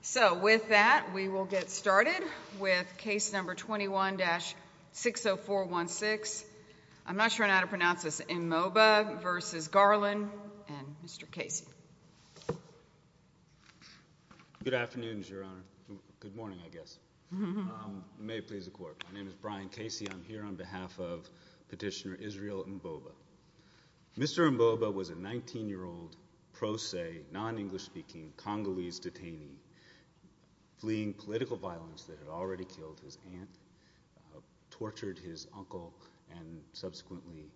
So with that, we will get started with case number 21-60416. I'm not sure how to pronounce this, Mboba v. Garland, and Mr. Casey. Good afternoon, Your Honor. Good morning, I guess. May it please the court. My name is Brian Casey. I'm here on behalf of Petitioner Israel Mboba. Mr. Mboba was a 19-year-old pro se, non-English speaking, Congolese detainee fleeing political violence that had already killed his aunt, tortured his uncle, and subsequently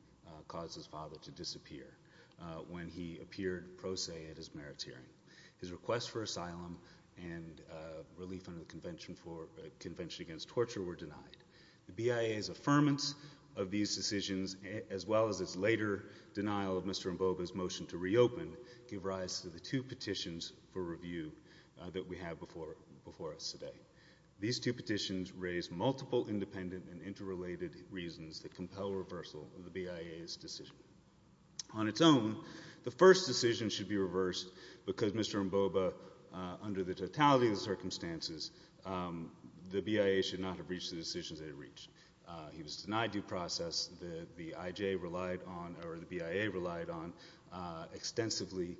caused his father to disappear when he appeared pro se at his merits hearing. His request for asylum and relief under the Convention Against Torture were denied. The BIA's affirmance of these decisions, as well as its later denial of Mr. Mboba's motion to reopen, give rise to the two petitions for review that we have before us today. These two petitions raise multiple independent and interrelated reasons that compel reversal of the BIA's decision. On its own, the first decision should be reversed because Mr. Mboba, under the totality of the circumstances, the BIA should not have reached the decisions it had reached. He was denied due process that the IJ relied on, or the BIA relied on, extensively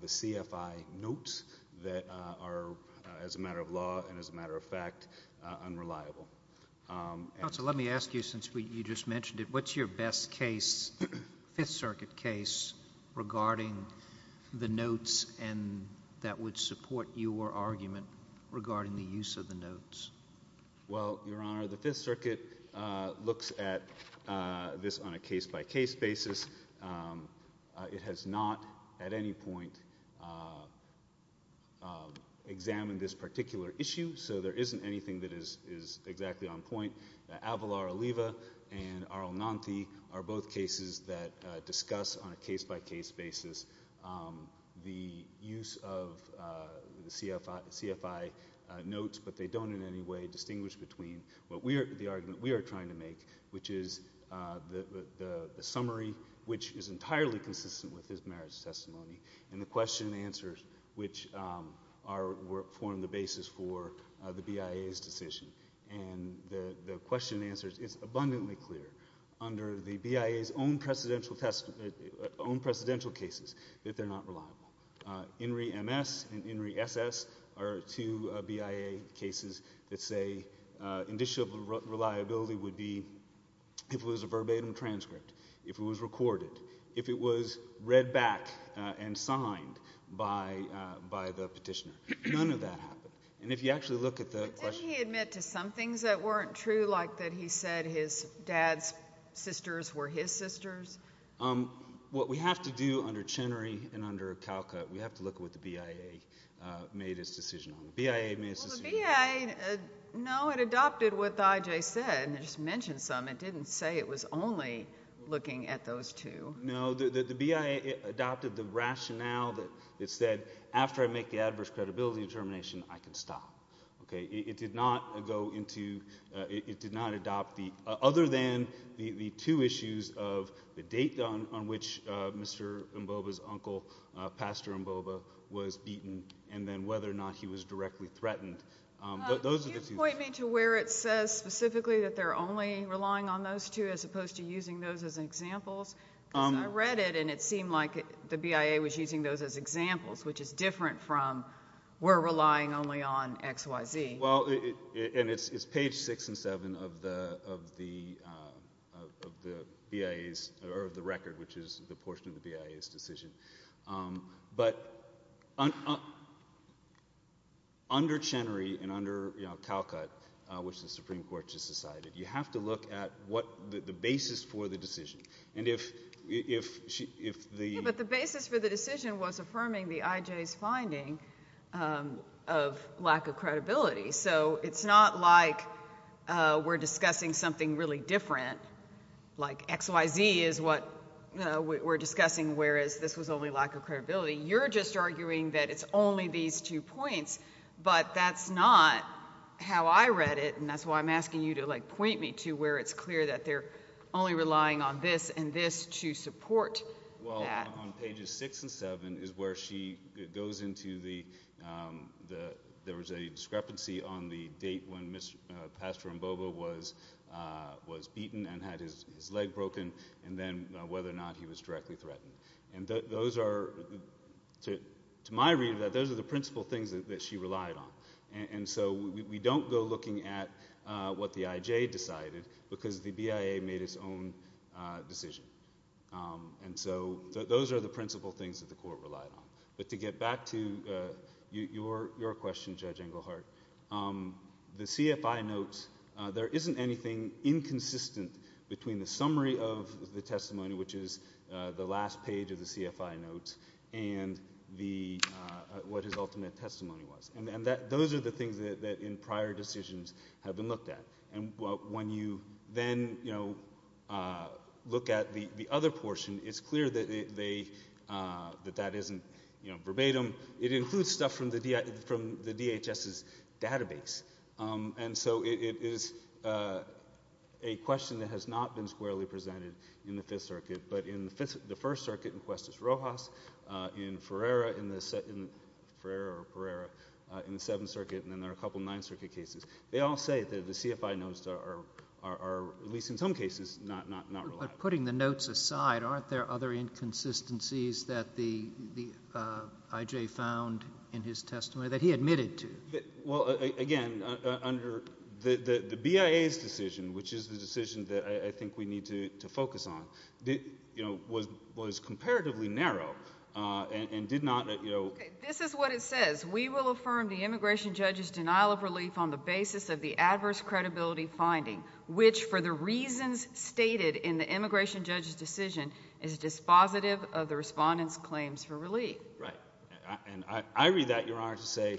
the CFI notes that are, as a matter of law and as a matter of fact, unreliable. Counsel, let me ask you, since you just mentioned it, what's your best case, Fifth Circuit case, regarding the notes that would support your argument regarding the use of the notes? Well, Your Honor, the Fifth Circuit looks at this on a case-by-case basis. It has not, at any point, examined this particular issue, so there isn't anything that is exactly on point. Avalar-Oliva and Arlenanti are both cases that discuss, on a case-by-case basis, the use of the CFI notes, but they don't, in any way, distinguish between the argument we are trying to make, which is the summary, which is entirely consistent with his marriage testimony, and the question and answers, which form the basis for the BIA's decision. And the question and answers, it's abundantly clear, under the BIA's own precedential cases, that they're not reliable. INRI-MS and INRI-SS are two BIA cases that say, indicial reliability would be, if it was a verbatim transcript, if it was recorded, if it was read back and signed by the petitioner. None of that happened. And if you actually look at the question. Didn't he admit to some things that weren't true, like that he said his dad's sisters were his sisters? What we have to do, under Chenery and under Calcutt, we have to look at what the BIA made its decision on. The BIA made its decision on. Well, the BIA, no, it adopted what the IJ said, and it just mentioned some. It didn't say it was only looking at those two. No, the BIA adopted the rationale that it said, after I make the adverse credibility determination, I can stop. It did not go into, it did not adopt the, other than the two issues of the date on which Mr. Mboba's uncle, Pastor Mboba, was beaten, and then whether or not he was directly threatened. Those are the two. Could you point me to where it says specifically that they're only relying on those two, as opposed to using those as examples? I read it, and it seemed like the BIA was using those as examples, which is different from, we're relying only on x, y, z. Well, and it's page six and seven of the BIA's, or of the record, which is the portion of the BIA's decision. But under Chenery and under Calcutt, which the Supreme Court just decided, you have to look at what the basis for the decision. And if the- But the basis for the decision was So it's not like we're discussing something really different, like x, y, z is what we're discussing, whereas this was only lack of credibility. You're just arguing that it's only these two points. But that's not how I read it, and that's why I'm asking you to point me to where it's clear that they're only relying on this and this to support that. Well, on pages six and seven is where she goes into the, there was a discrepancy on the date when Pastor Mboba was beaten and had his leg broken, and then whether or not he was directly threatened. And those are, to my reading, those are the principal things that she relied on. And so we don't go looking at what the IJ decided, because the BIA made its own decision. And so those are the principal things that the court relied on. But to get back to your question, Judge Englehart, the CFI notes, there isn't anything inconsistent between the summary of the testimony, which is the last page of the CFI notes, and what his ultimate testimony was. And those are the things that, in prior decisions, have been looked at. And when you then look at the other portion, it's clear that that isn't verbatim. It includes stuff from the DHS's database. And so it is a question that has not been squarely presented in the Fifth Circuit, but in the First Circuit in Cuestas-Rojas, in Ferrara in the Seventh Circuit, and then there are a couple of Ninth Circuit cases. They all say that the CFI notes are, at least in some cases, not reliable. Putting the notes aside, aren't there other inconsistencies that the IJ found in his testimony that he admitted to? Well, again, under the BIA's decision, which is the decision that I think we need to focus on, was comparatively narrow and did not let you know. This is what it says. We will affirm the immigration judge's denial of relief on the basis of the adverse credibility finding, which, for the reasons stated in the immigration judge's decision, is dispositive of the respondent's claims for relief. And I read that, Your Honor, to say,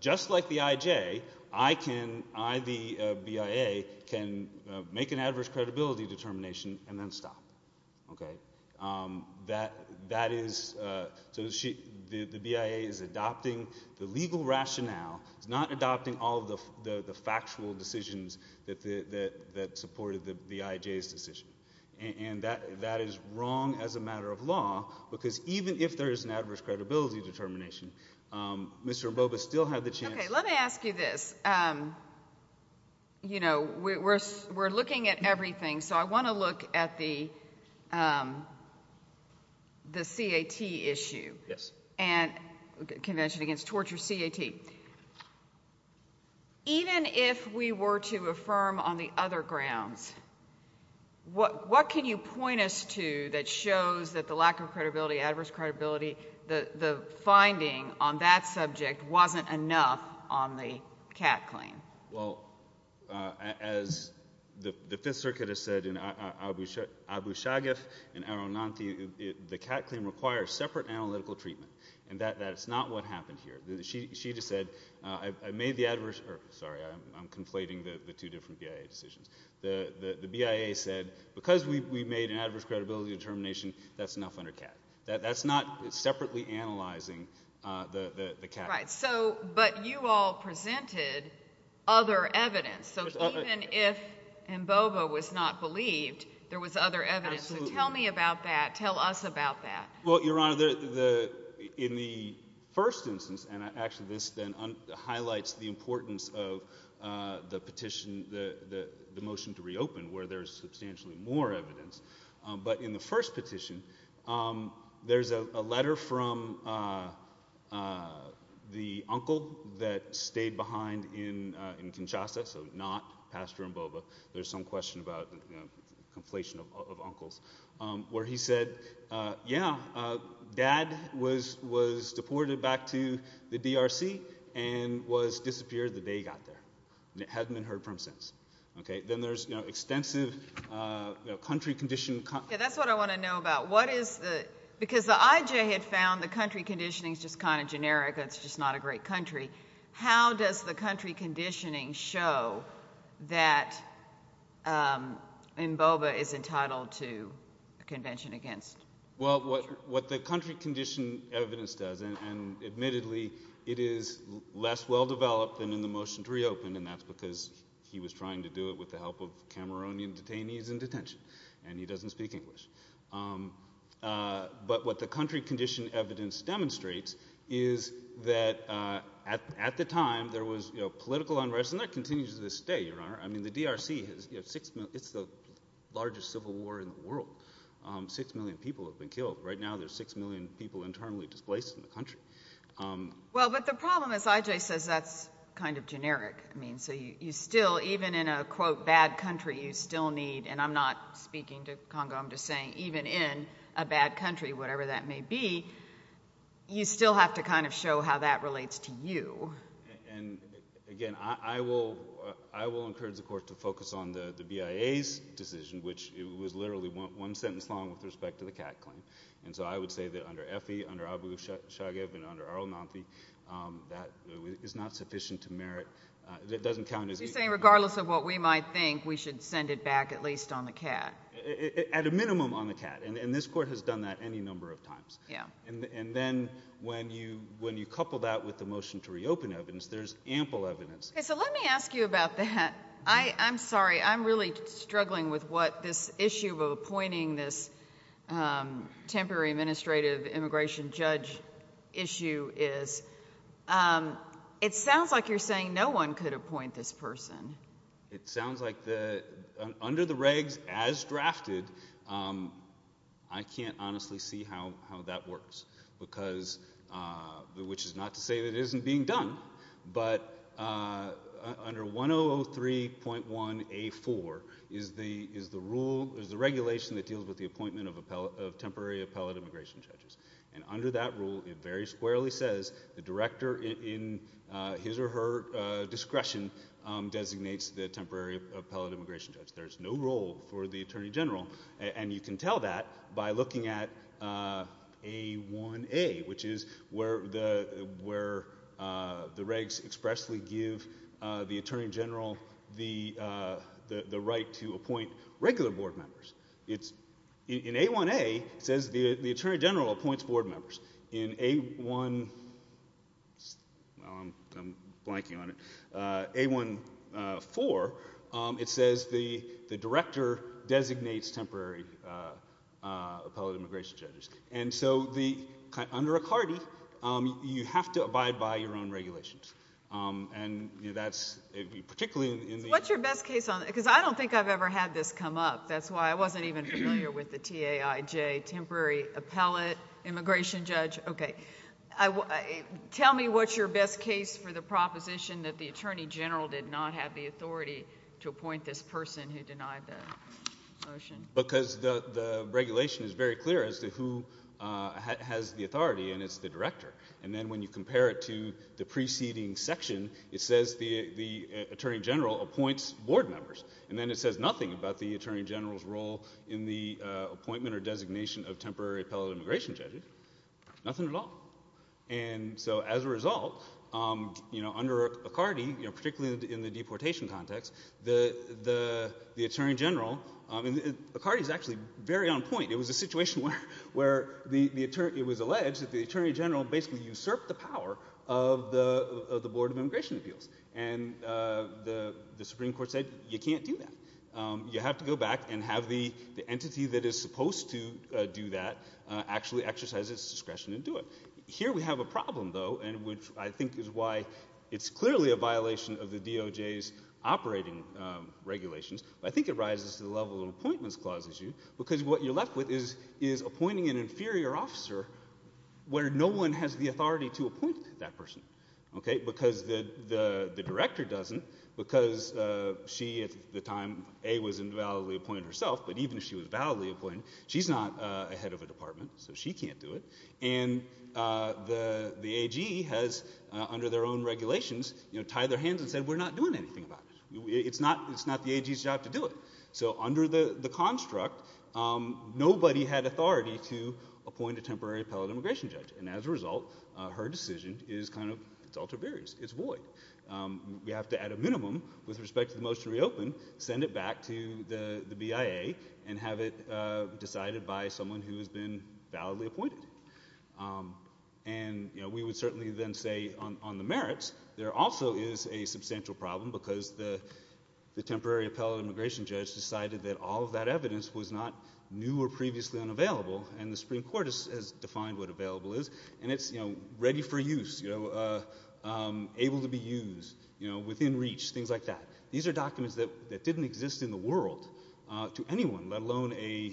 just like the IJ, I can, I, the BIA, can make an adverse credibility determination and then stop, OK? That is, so the BIA is adopting the legal rationale. It's not adopting all of the factual decisions that supported the IJ's decision. And that is wrong as a matter of law, because even if there is an adverse credibility determination, Mr. Mboba still had the chance to. OK, let me ask you this. You know, we're looking at everything. So I want to look at the CAT issue. Yes. And Convention Against Torture, CAT. Even if we were to affirm on the other grounds, what can you point us to that shows that the lack of credibility, adverse credibility, the finding on that subject wasn't enough on the CAT claim? Well, as the Fifth Circuit has said, in Abu Shagef and Arunanthi, the CAT claim requires separate analytical treatment. And that is not what happened here. She just said, I made the adverse, or sorry, I'm conflating the two different BIA decisions. The BIA said, because we made an adverse credibility determination, that's enough under CAT. That's not separately analyzing the CAT. Right. But you all presented other evidence. So even if Mboba was not believed, there was other evidence. So tell me about that. Tell us about that. Well, Your Honor, in the first instance, and actually this then highlights the importance of the petition, the motion to reopen, where there's substantially more evidence. But in the first petition, there's a letter from the uncle that stayed behind in Kinshasa, so not Pastor Mboba. There's some question about conflation of uncles, where he said, yeah, dad was deported back to the DRC and was disappeared the day he got there. And it hadn't been heard from since. Then there's extensive country condition. Yeah, that's what I want to know about. Because the IJ had found the country conditioning's just kind of generic. It's just not a great country. How does the country conditioning show that Mboba is entitled to a convention against? Well, what the country condition evidence does, and admittedly, it is less well-developed than in the motion to reopen, and that's because he was trying to do it with the help of Cameroonian detainees in detention, and he doesn't speak English. But what the country condition evidence demonstrates is that at the time, there was political unrest, and that continues to this day, Your Honor. I mean, the DRC, it's the largest civil war in the world. Six million people have been killed. Right now, there's six million people internally displaced in the country. Well, but the problem is IJ says that's kind of generic. So you still, even in a, quote, bad country, you still need, and I'm not speaking to Congo, I'm just saying, even in a bad country, whatever that may be, you still have to kind of show how that relates to you. And again, I will encourage the court to focus on the BIA's decision, which it was literally one sentence long with respect to the cat claim. And so I would say that under Effie, under Abu Shajib, and under Arul Nanthi, that is not sufficient to merit. It doesn't count as anything. So you're saying regardless of what we might think, we should send it back at least on the cat? At a minimum on the cat, and this court has done that any number of times. And then when you couple that with the motion to reopen evidence, there's ample evidence. So let me ask you about that. I'm sorry, I'm really struggling with what this issue of appointing this temporary administrative immigration judge issue is. It sounds like you're saying no one could appoint this person. It sounds like under the regs as drafted, I can't honestly see how that works. Because, which is not to say that it isn't being done, but under 1003.1A4 is the rule, is the regulation that deals with the appointment of temporary appellate immigration judges. And under that rule, it very squarely says the director in his or her discretion designates the temporary appellate immigration judge. There's no role for the attorney general. And you can tell that by looking at A1A, which is where the regs expressly give the attorney general the right to appoint regular board members. In A1A, it says the attorney general appoints board members. In A1, well, I'm blanking on it. A1A4, it says the director designates temporary appellate immigration judges. And so under a CARTI, you have to abide by your own regulations. And that's particularly in the- What's your best case on it? Because I don't think I've ever had this come up. That's why I wasn't even familiar with the TAIJ, Temporary Appellate Immigration Judge. OK, tell me what's your best case for the proposition that the attorney general did not have the authority to appoint this person who denied the motion? Because the regulation is very clear as to who has the authority, and it's the director. And then when you compare it to the preceding section, it says the attorney general appoints board members. And then it says nothing about the attorney general's role in the appointment or designation of temporary appellate immigration judges. Nothing at all. And so as a result, under a CARTI, particularly in the deportation context, the attorney general- CARTI is actually very on point. It was a situation where it was alleged that the attorney general basically usurped the power of the Board of Immigration Appeals. And the Supreme Court said, you can't do that. You have to go back and have the entity that is supposed to do that actually exercise its discretion and do it. Here we have a problem, though, and which I think is why it's clearly a violation of the DOJ's operating regulations, but I think it rises to the level of appointments clause issue. Because what you're left with is appointing an inferior officer where no one has the authority to appoint that person. Because the director doesn't. Because she, at the time, A, was invalidly appointed herself. But even if she was validly appointed, she's not a head of a department, so she can't do it. And the AG has, under their own regulations, tied their hands and said, we're not doing anything about it. It's not the AG's job to do it. So under the construct, nobody had authority to appoint a temporary appellate immigration judge. And as a result, her decision is kind of ultra-various. It's void. We have to, at a minimum, with respect to the motion to reopen, send it back to the BIA and have it been validly appointed. And we would certainly then say, on the merits, there also is a substantial problem because the temporary appellate immigration judge decided that all of that evidence was not new or previously unavailable. And the Supreme Court has defined what available is. And it's ready for use, able to be used, within reach, things like that. These are documents that didn't exist in the world to anyone, let alone a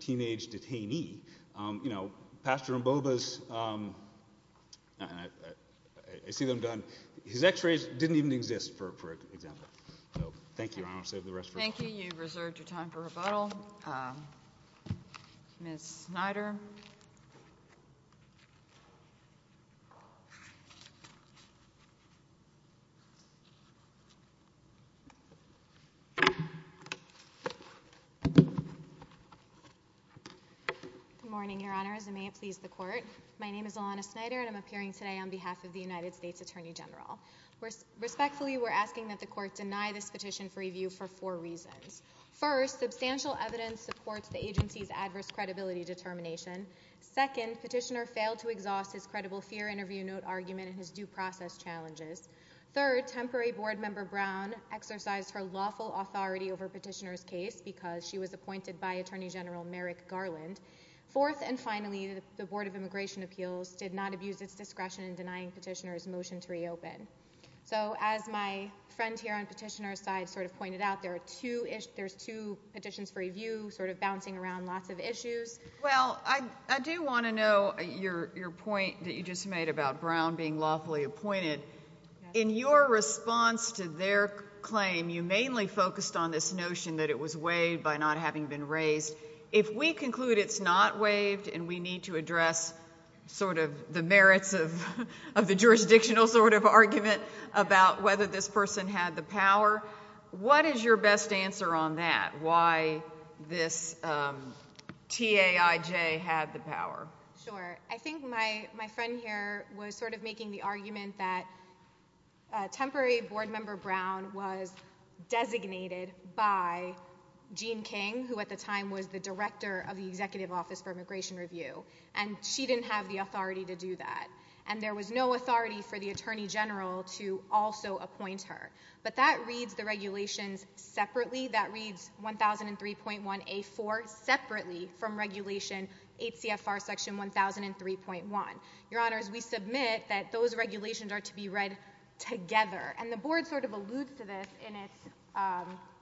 teenage detainee. Pastor Mboba's, I see them done. His x-rays didn't even exist, for example. So thank you, Your Honor. Save the rest for later. Thank you. You've reserved your time for rebuttal. Ms. Snyder? Good morning, Your Honor, as I may please the court. My name is Ilana Snyder, and I'm appearing today on behalf of the United States Attorney General. Respectfully, we're asking that the court deny this petition for review for four reasons. First, substantial evidence supports the agency's adverse credibility determination. Second, petitioner failed to exhaust his credible fear interview note argument and his due process challenges. exercised her lawful authority over petitioner's case because she was a member of the board. She was appointed by Attorney General Merrick Garland. Fourth, and finally, the Board of Immigration Appeals did not abuse its discretion in denying petitioner's motion to reopen. So as my friend here on petitioner's side sort of pointed out, there's two petitions for review sort of bouncing around lots of issues. Well, I do want to know your point that you just made about Brown being lawfully appointed. In your response to their claim, you mainly focused on this notion that it was waived by not having been raised. If we conclude it's not waived and we need to address sort of the merits of the jurisdictional sort of argument about whether this person had the power, what is your best answer on that, why this TAIJ had the power? Sure. I think my friend here was sort of making the argument that temporary board member Brown was designated by Jean King, who at the time was the director of the Executive Office for Immigration Review. And she didn't have the authority to do that. And there was no authority for the attorney general to also appoint her. But that reads the regulations separately. That reads 1003.1A4 separately from regulation 8CFR section 1003.1. Your honors, we submit that those regulations are to be read together. And the board sort of alludes to this in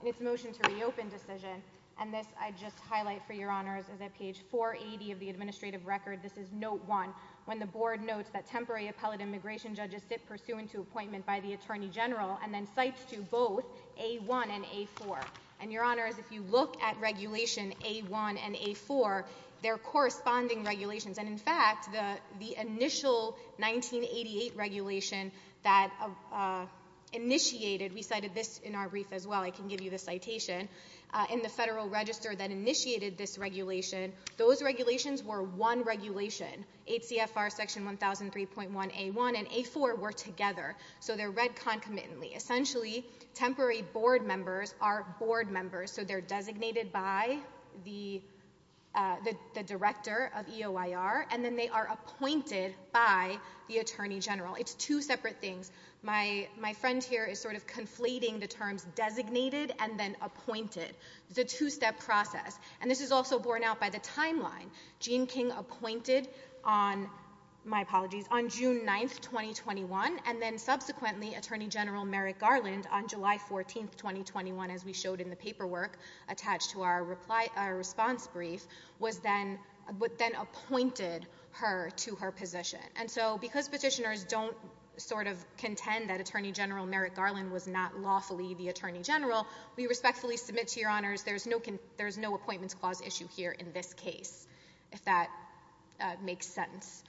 its motion to reopen decision. And this I just highlight for your honors is at page 480 of the administrative record. This is note one, when the board notes that temporary appellate immigration judges sit pursuant to appointment by the attorney general and then cites to both A1 and A4. And your honors, if you look at regulation A1 and A4, they're corresponding regulations. And in fact, the initial 1988 regulation that initiated, we cited this in our brief as well. I can give you the citation. In the federal register that initiated this regulation, those regulations were one regulation. 8CFR section 1003.1A1 and A4 were together. So they're read concomitantly. Essentially, temporary board members are board members. So they're designated by the director of EOIR. And then they are appointed by the attorney general. It's two separate things. My friend here is sort of conflating the terms designated and then appointed. It's a two-step process. And this is also borne out by the timeline. Jean King appointed on, my apologies, on June 9, 2021. And then subsequently, Attorney General Merrick Garland on July 14, 2021, as we showed in the paperwork attached to our response brief, was then appointed her to her position. And so because petitioners don't sort of contend that Attorney General Merrick Garland was not lawfully the attorney general, we respectfully submit to your honors, there's no appointments clause issue here in this case, if that makes sense.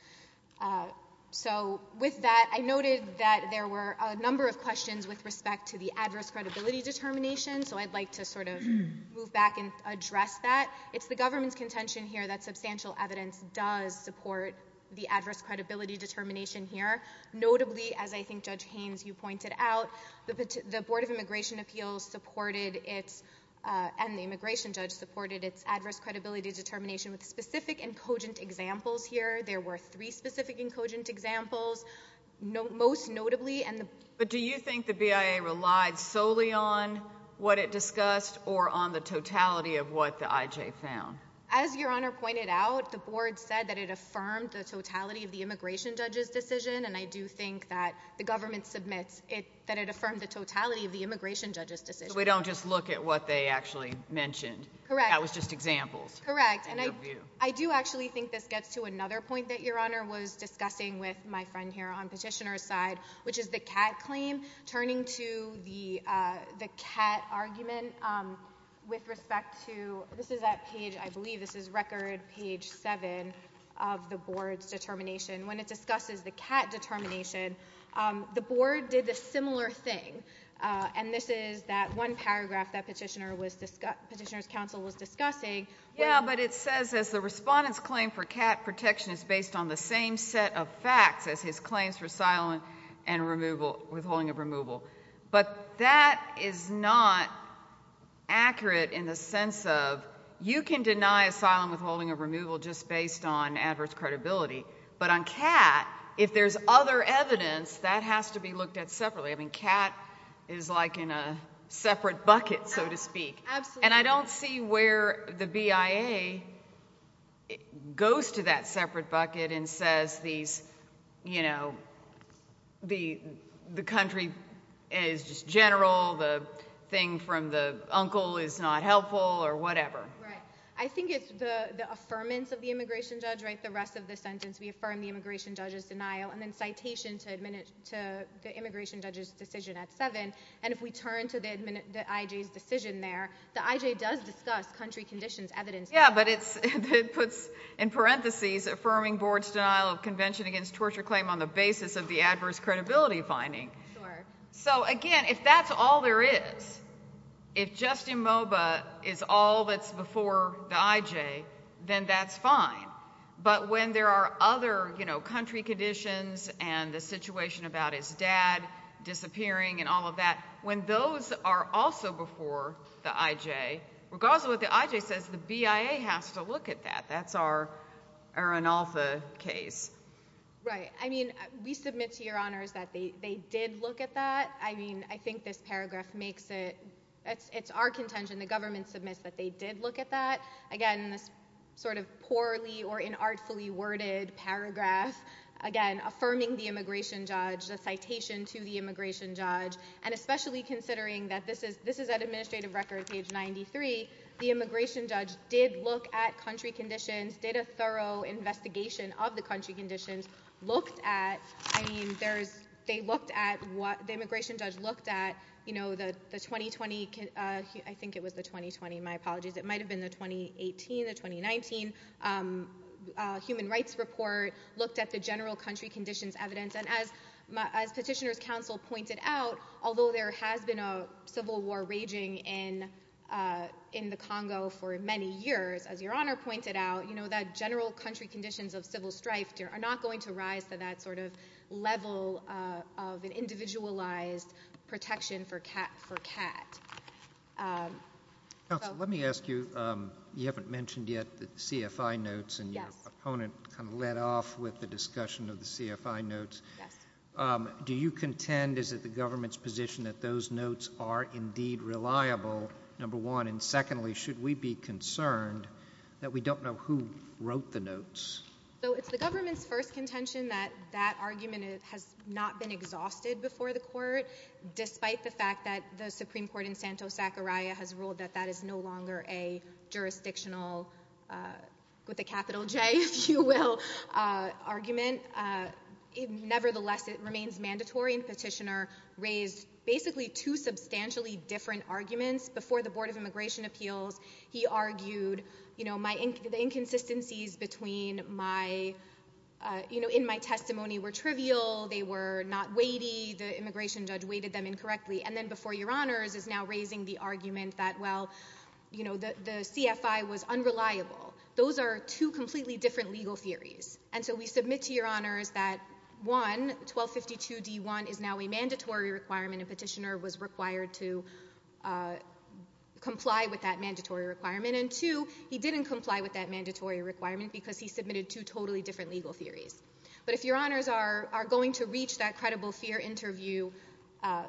So with that, I noted that there were a number of questions with respect to the adverse credibility determination. So I'd like to sort of move back and address that. It's the government's contention here that substantial evidence does support the adverse credibility determination here. Notably, as I think Judge Haynes, you pointed out, the Board of Immigration Appeals supported its and the immigration judge supported its adverse credibility determination with specific and cogent examples here. There were three specific and cogent examples. Most notably, and the- BIA relied solely on what it discussed or on the totality of what the IJ found. As your honor pointed out, the board said that it affirmed the totality of the immigration judge's decision. And I do think that the government submits that it affirmed the totality of the immigration judge's decision. So we don't just look at what they actually mentioned. Correct. That was just examples. Correct. And I do actually think this gets to another point that your honor was discussing with my friend here on petitioner's side, which is the cat claim, turning to the cat argument with respect to, this is that page, I believe, this is record page seven of the board's determination. When it discusses the cat determination, the board did a similar thing. And this is that one paragraph that petitioner's counsel was discussing. Yeah, but it says, as the respondent's claim for cat protection is based on the same set of facts as his claims for asylum and removal, withholding of removal. But that is not accurate in the sense of, you can deny asylum withholding or removal just based on adverse credibility. But on cat, if there's other evidence, that has to be looked at separately. I mean, cat is like in a separate bucket, so to speak. And I don't see where the BIA goes to that separate bucket and says, the country is just general, the thing from the uncle is not helpful, or whatever. I think it's the affirmance of the immigration judge, the rest of the sentence. We affirm the immigration judge's denial, and then citation to the immigration judge's decision at 7. And if we turn to the IJ's decision there, the IJ does discuss country conditions, evidence. Yeah, but it puts, in parentheses, affirming board's denial of convention against torture claim on the basis of the adverse credibility finding. So again, if that's all there is, if Justin Moba is all that's before the IJ, then that's fine. But when there are other country conditions, and the situation about his dad disappearing, and all of that, when those are also before the IJ, regardless of what the IJ says, the BIA has to look at that. That's our arenalpha case. Right, I mean, we submit to your honors that they did look at that. I mean, I think this paragraph makes it, it's our contention, the government submits that they did look at that. Again, this sort of poorly or inartfully worded paragraph, again, affirming the immigration judge, the citation to the immigration judge, and especially considering that this is an administrative record, page 93. The immigration judge did look at country conditions, did a thorough investigation of the country conditions, looked at, I mean, they looked at what, the immigration judge looked at the 2020, I think it was the 2020, my apologies, it might have been the 2018, the 2019 human rights report, looked at the general country conditions evidence. And as petitioner's counsel pointed out, although there has been a civil war raging in the Congo for many years, as your honor pointed out, you know, that general country conditions of civil strife are not going to rise to that sort of level of an individualized protection for CAT. So. Council, let me ask you, you haven't mentioned yet the CFI notes. And your opponent kind of led off with the discussion of the CFI notes. Yes. Do you contend, is it the government's position that those notes are indeed reliable, number one? And secondly, should we be concerned that we don't know who wrote the notes? So, it's the government's first contention that that argument has not been exhausted before the court, despite the fact that the Supreme Court in Santos-Zachariah has ruled that that is no longer a jurisdictional, with a capital J, if you will, argument. Nevertheless, it remains mandatory, and petitioner raised basically two substantially different arguments. Before the Board of Immigration Appeals, he argued, you know, the inconsistencies between my, you know, in my testimony were trivial, they were not weighty, the immigration judge weighted them incorrectly. And then before your honors is now raising the argument that, well, you know, the CFI was unreliable. Those are two completely different legal theories. And so we submit to your honors that, one, 1252-D1 is now a mandatory requirement, and petitioner was required to comply with that mandatory requirement. And two, he didn't comply with that mandatory requirement because he submitted two totally different legal theories. But if your honors are going to reach that credible fear interview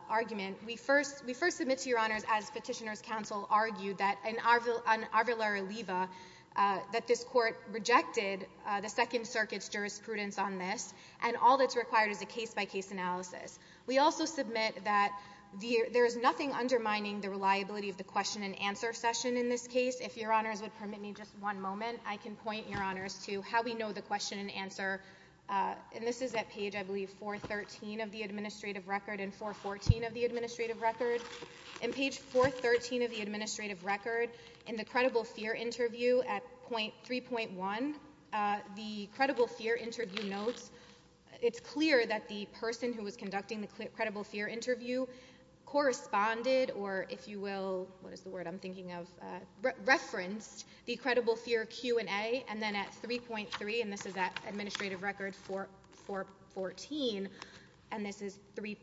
argument, we first submit to your honors, as petitioner's counsel argued, that in Arvillera-Liva, that this court rejected the Second Circuit's jurisprudence on this, and all that's required is a case-by-case analysis. We also submit that there is nothing undermining the reliability of the question and answer session in this case. If your honors would permit me just one moment, I can point your honors to how we know the question and answer. And this is at page, I believe, 413 of the administrative record, and 414 of the administrative record. In page 413 of the administrative record, in the credible fear interview at 3.1, the credible fear interview notes, it's clear that the person who was conducting the credible fear interview corresponded, or if you will, what is the word I'm thinking of, referenced the credible fear Q&A, and then at 3.3, and this is at administrative record 414, and this is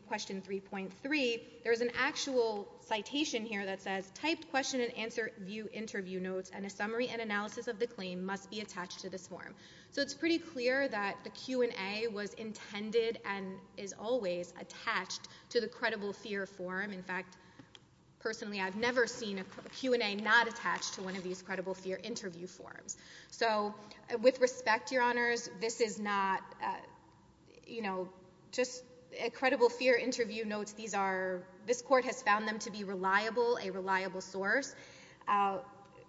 question 3.3, there's an actual citation here that says, typed question and answer view interview notes and a summary and analysis of the claim must be attached to this form. So it's pretty clear that the Q&A was intended and is always attached to the credible fear form. In fact, personally, I've never seen a Q&A not attached to one of these credible fear interview forms. So with respect, your honors, this is not, you know, just a credible fear interview notes, these are, this court has found them to be reliable, a reliable source,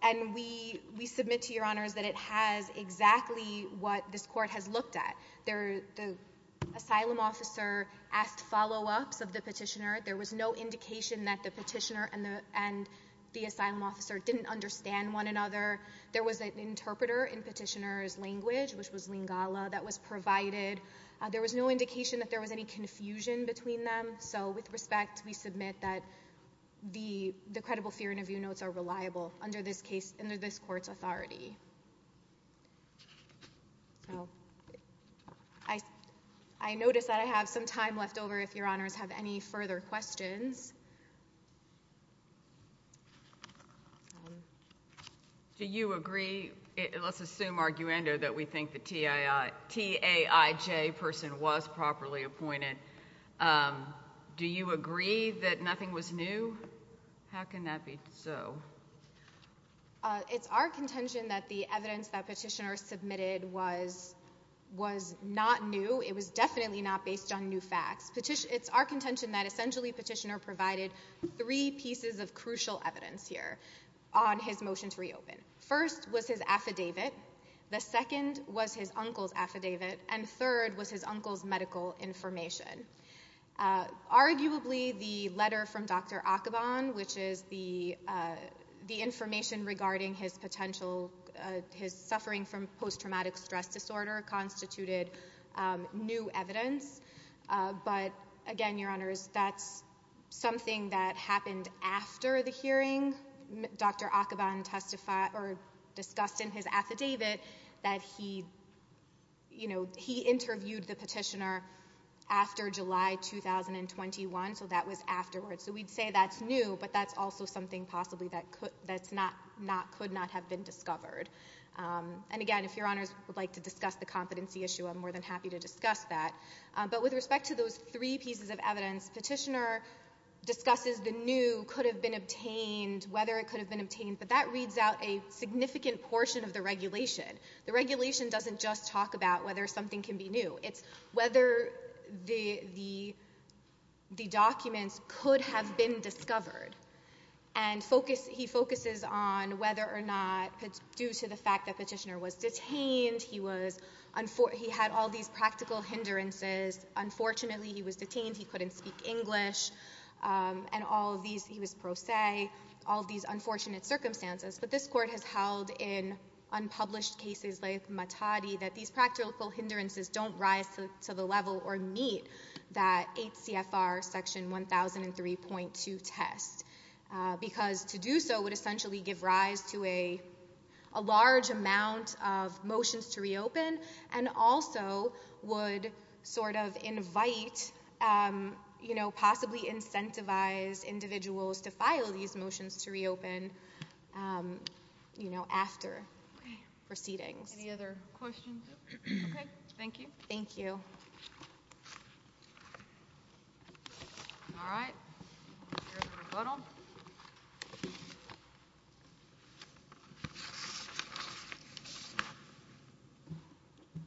and we submit to your honors that it has exactly what this court has looked at. The asylum officer asked follow-ups of the petitioner, there was no indication that the petitioner and the asylum officer didn't understand one another, there was an interpreter in petitioner's language, which was Lingala, that was provided, there was no indication that there was any confusion between them, so with respect, we submit that the credible fear interview notes are reliable under this court's authority. I notice that I have some time left over if your honors have any further questions. Do you agree, let's assume arguendo, that we think the TAIJ person was properly appointed, do you agree that nothing was new? How can that be so? It's our contention that the evidence that petitioner submitted was not new, it was definitely not based on new facts. It's our contention that essentially, petitioner provided three pieces of crucial evidence here on his motion to reopen. First was his affidavit, the second was his uncle's affidavit, and third was his uncle's medical information. Arguably, the letter from Dr. Akhavan, which is the information regarding his potential, his suffering from post-traumatic stress disorder constituted new evidence, but again, your honors, that's something that happened after the hearing. Dr. Akhavan discussed in his affidavit that he interviewed the petitioner after July 2021, so that was afterwards. So we'd say that's new, but that's also something possibly that could not have been discovered. And again, if your honors would like to discuss the competency issue, I'm more than happy to discuss that. But with respect to those three pieces of evidence, petitioner discusses the new, could have been obtained, whether it could have been obtained, but that reads out a significant portion of the regulation. The regulation doesn't just talk about whether something can be new, it's whether the documents could have been discovered. And he focuses on whether or not, due to the fact that petitioner was detained, he had all these practical hindrances, unfortunately he was detained, he couldn't speak English, and all of these, he was pro se, all of these unfortunate circumstances, but this court has held in unpublished cases like Matadi that these practical hindrances don't rise to the level or meet that 8 CFR section 1003.2 test, because to do so would essentially give rise to a large amount of motions to reopen, and also would sort of invite, possibly incentivize individuals to file these motions to reopen after proceedings. Any other questions? Okay, thank you. Thank you. All right, we'll hear the rebuttal. I don't have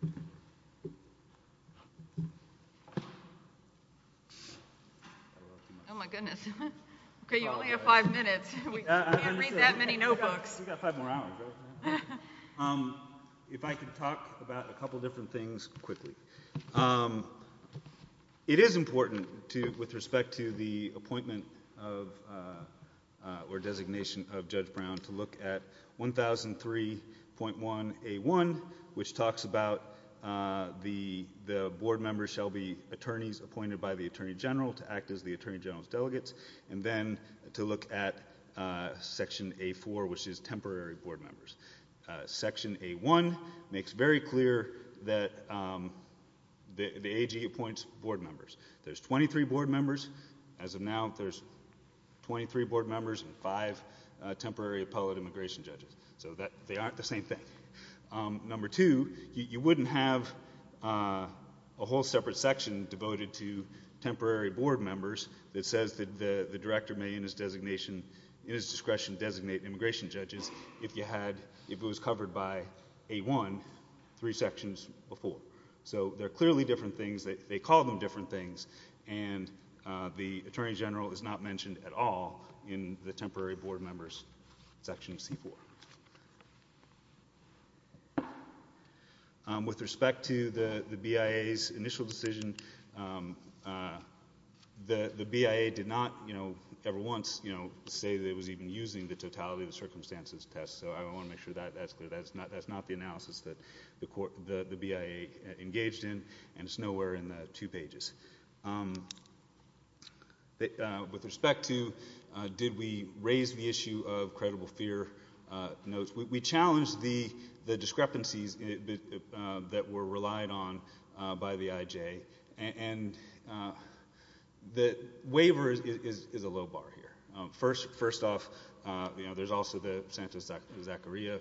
too much time. Oh my goodness. Okay, you only have five minutes. We can't read that many notebooks. We've got five more hours, right? If I could talk about a couple different things quickly. It is important to, with respect to the appointment of, or designation of Judge Brown, to look at 1003.1A1, which talks about the board member shall be attorneys appointed by the Attorney General to act as the Attorney General's delegates, and then to look at section A4, which is temporary board members. Section A1 makes very clear that the AG appoints board members. There's 23 board members. As of now, there's 23 board members and five temporary appellate immigration judges, so they aren't the same thing. Number two, you wouldn't have a whole separate section devoted to temporary board members that says that the director may, in his designation, in his discretion, designate immigration judges if you had, if it was covered by A1 three sections before. So they're clearly different things. They call them different things, and the Attorney General is not mentioned at all in the temporary board members section of C4. With respect to the BIA's initial decision, the BIA did not, you know, ever once, you know, say that it was even using the totality of the circumstances test, so I wanna make sure that that's clear. That's not the analysis that the BIA engaged in, and it's nowhere in the two pages. With respect to did we raise the issue of credible fear notes, we challenged the discrepancies that were relied on by the IJ, and the waiver is a low bar here. First off, you know, there's also the Santos-Zacharia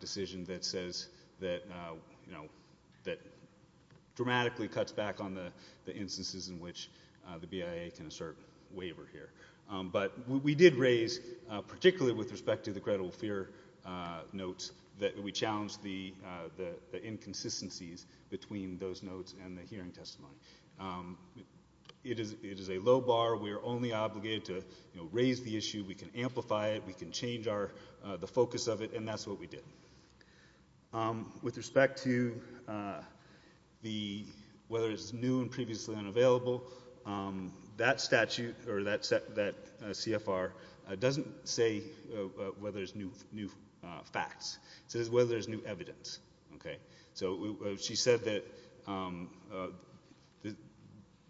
decision that says that, you know, that dramatically cuts back on the instances in which the BIA can assert waiver here. But we did raise, particularly with respect to the credible fear notes, that we challenged the inconsistencies between those notes and the hearing testimony. It is a low bar. We are only obligated to, you know, raise the issue. We can amplify it. We can change the focus of it, and that's what we did. With respect to the, whether it's new and previously unavailable, that statute, or that CFR, doesn't say whether there's new facts. It says whether there's new evidence, okay? So she said that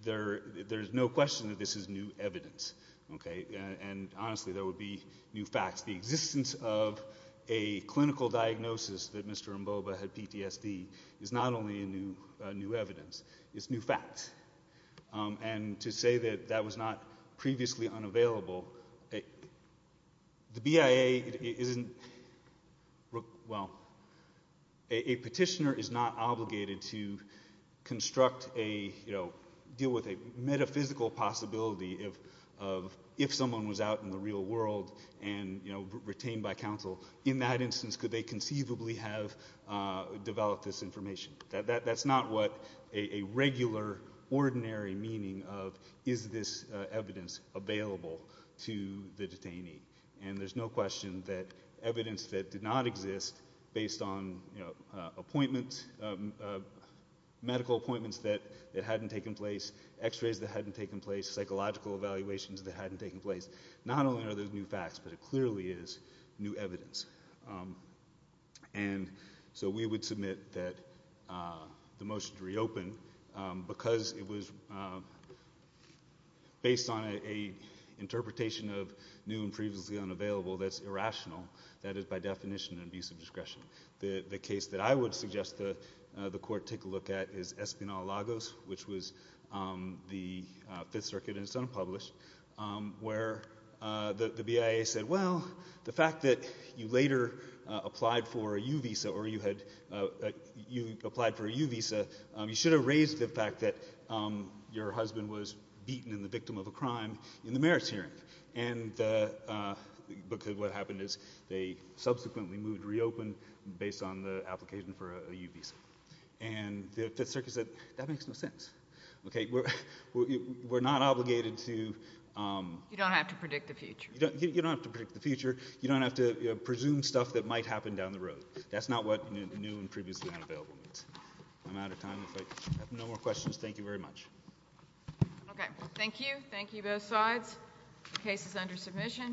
there's no question that this is new evidence, okay? And honestly, there would be new facts. The existence of a clinical diagnosis that Mr. Mboba had PTSD is not only a new evidence, it's new facts. And to say that that was not previously unavailable the BIA isn't, well, a petitioner is not obligated to construct a, you know, deal with a metaphysical possibility of if someone was out in the real world and, you know, retained by counsel, in that instance, could they conceivably have developed this information? That's not what a regular, ordinary meaning of, is this evidence available to the detainee? And there's no question that evidence that did not exist based on, you know, appointments, medical appointments that hadn't taken place, x-rays that hadn't taken place, psychological evaluations that hadn't taken place, not only are those new facts, but it clearly is new evidence. And so we would submit that the motion to reopen, because it was based on a interpretation of new and previously unavailable that's irrational, that is, by definition, an abuse of discretion. The case that I would suggest the court take a look at is Espinal-Lagos, which was the Fifth Circuit, and it's unpublished, where the BIA said, well, the fact that you later applied for a U visa, or you had, you applied for a U visa, you should have raised the fact that your husband was beaten and the victim of a crime in the merits hearing. And because what happened is they subsequently moved to reopen based on the application for a U visa. And the Fifth Circuit said, that makes no sense. Okay, we're not obligated to. You don't have to predict the future. You don't have to predict the future. You don't have to presume stuff that might happen down the road. That's not what new and previously unavailable means. I'm out of time. If I have no more questions, thank you very much. Okay, thank you. Thank you, both sides. Case is under submission.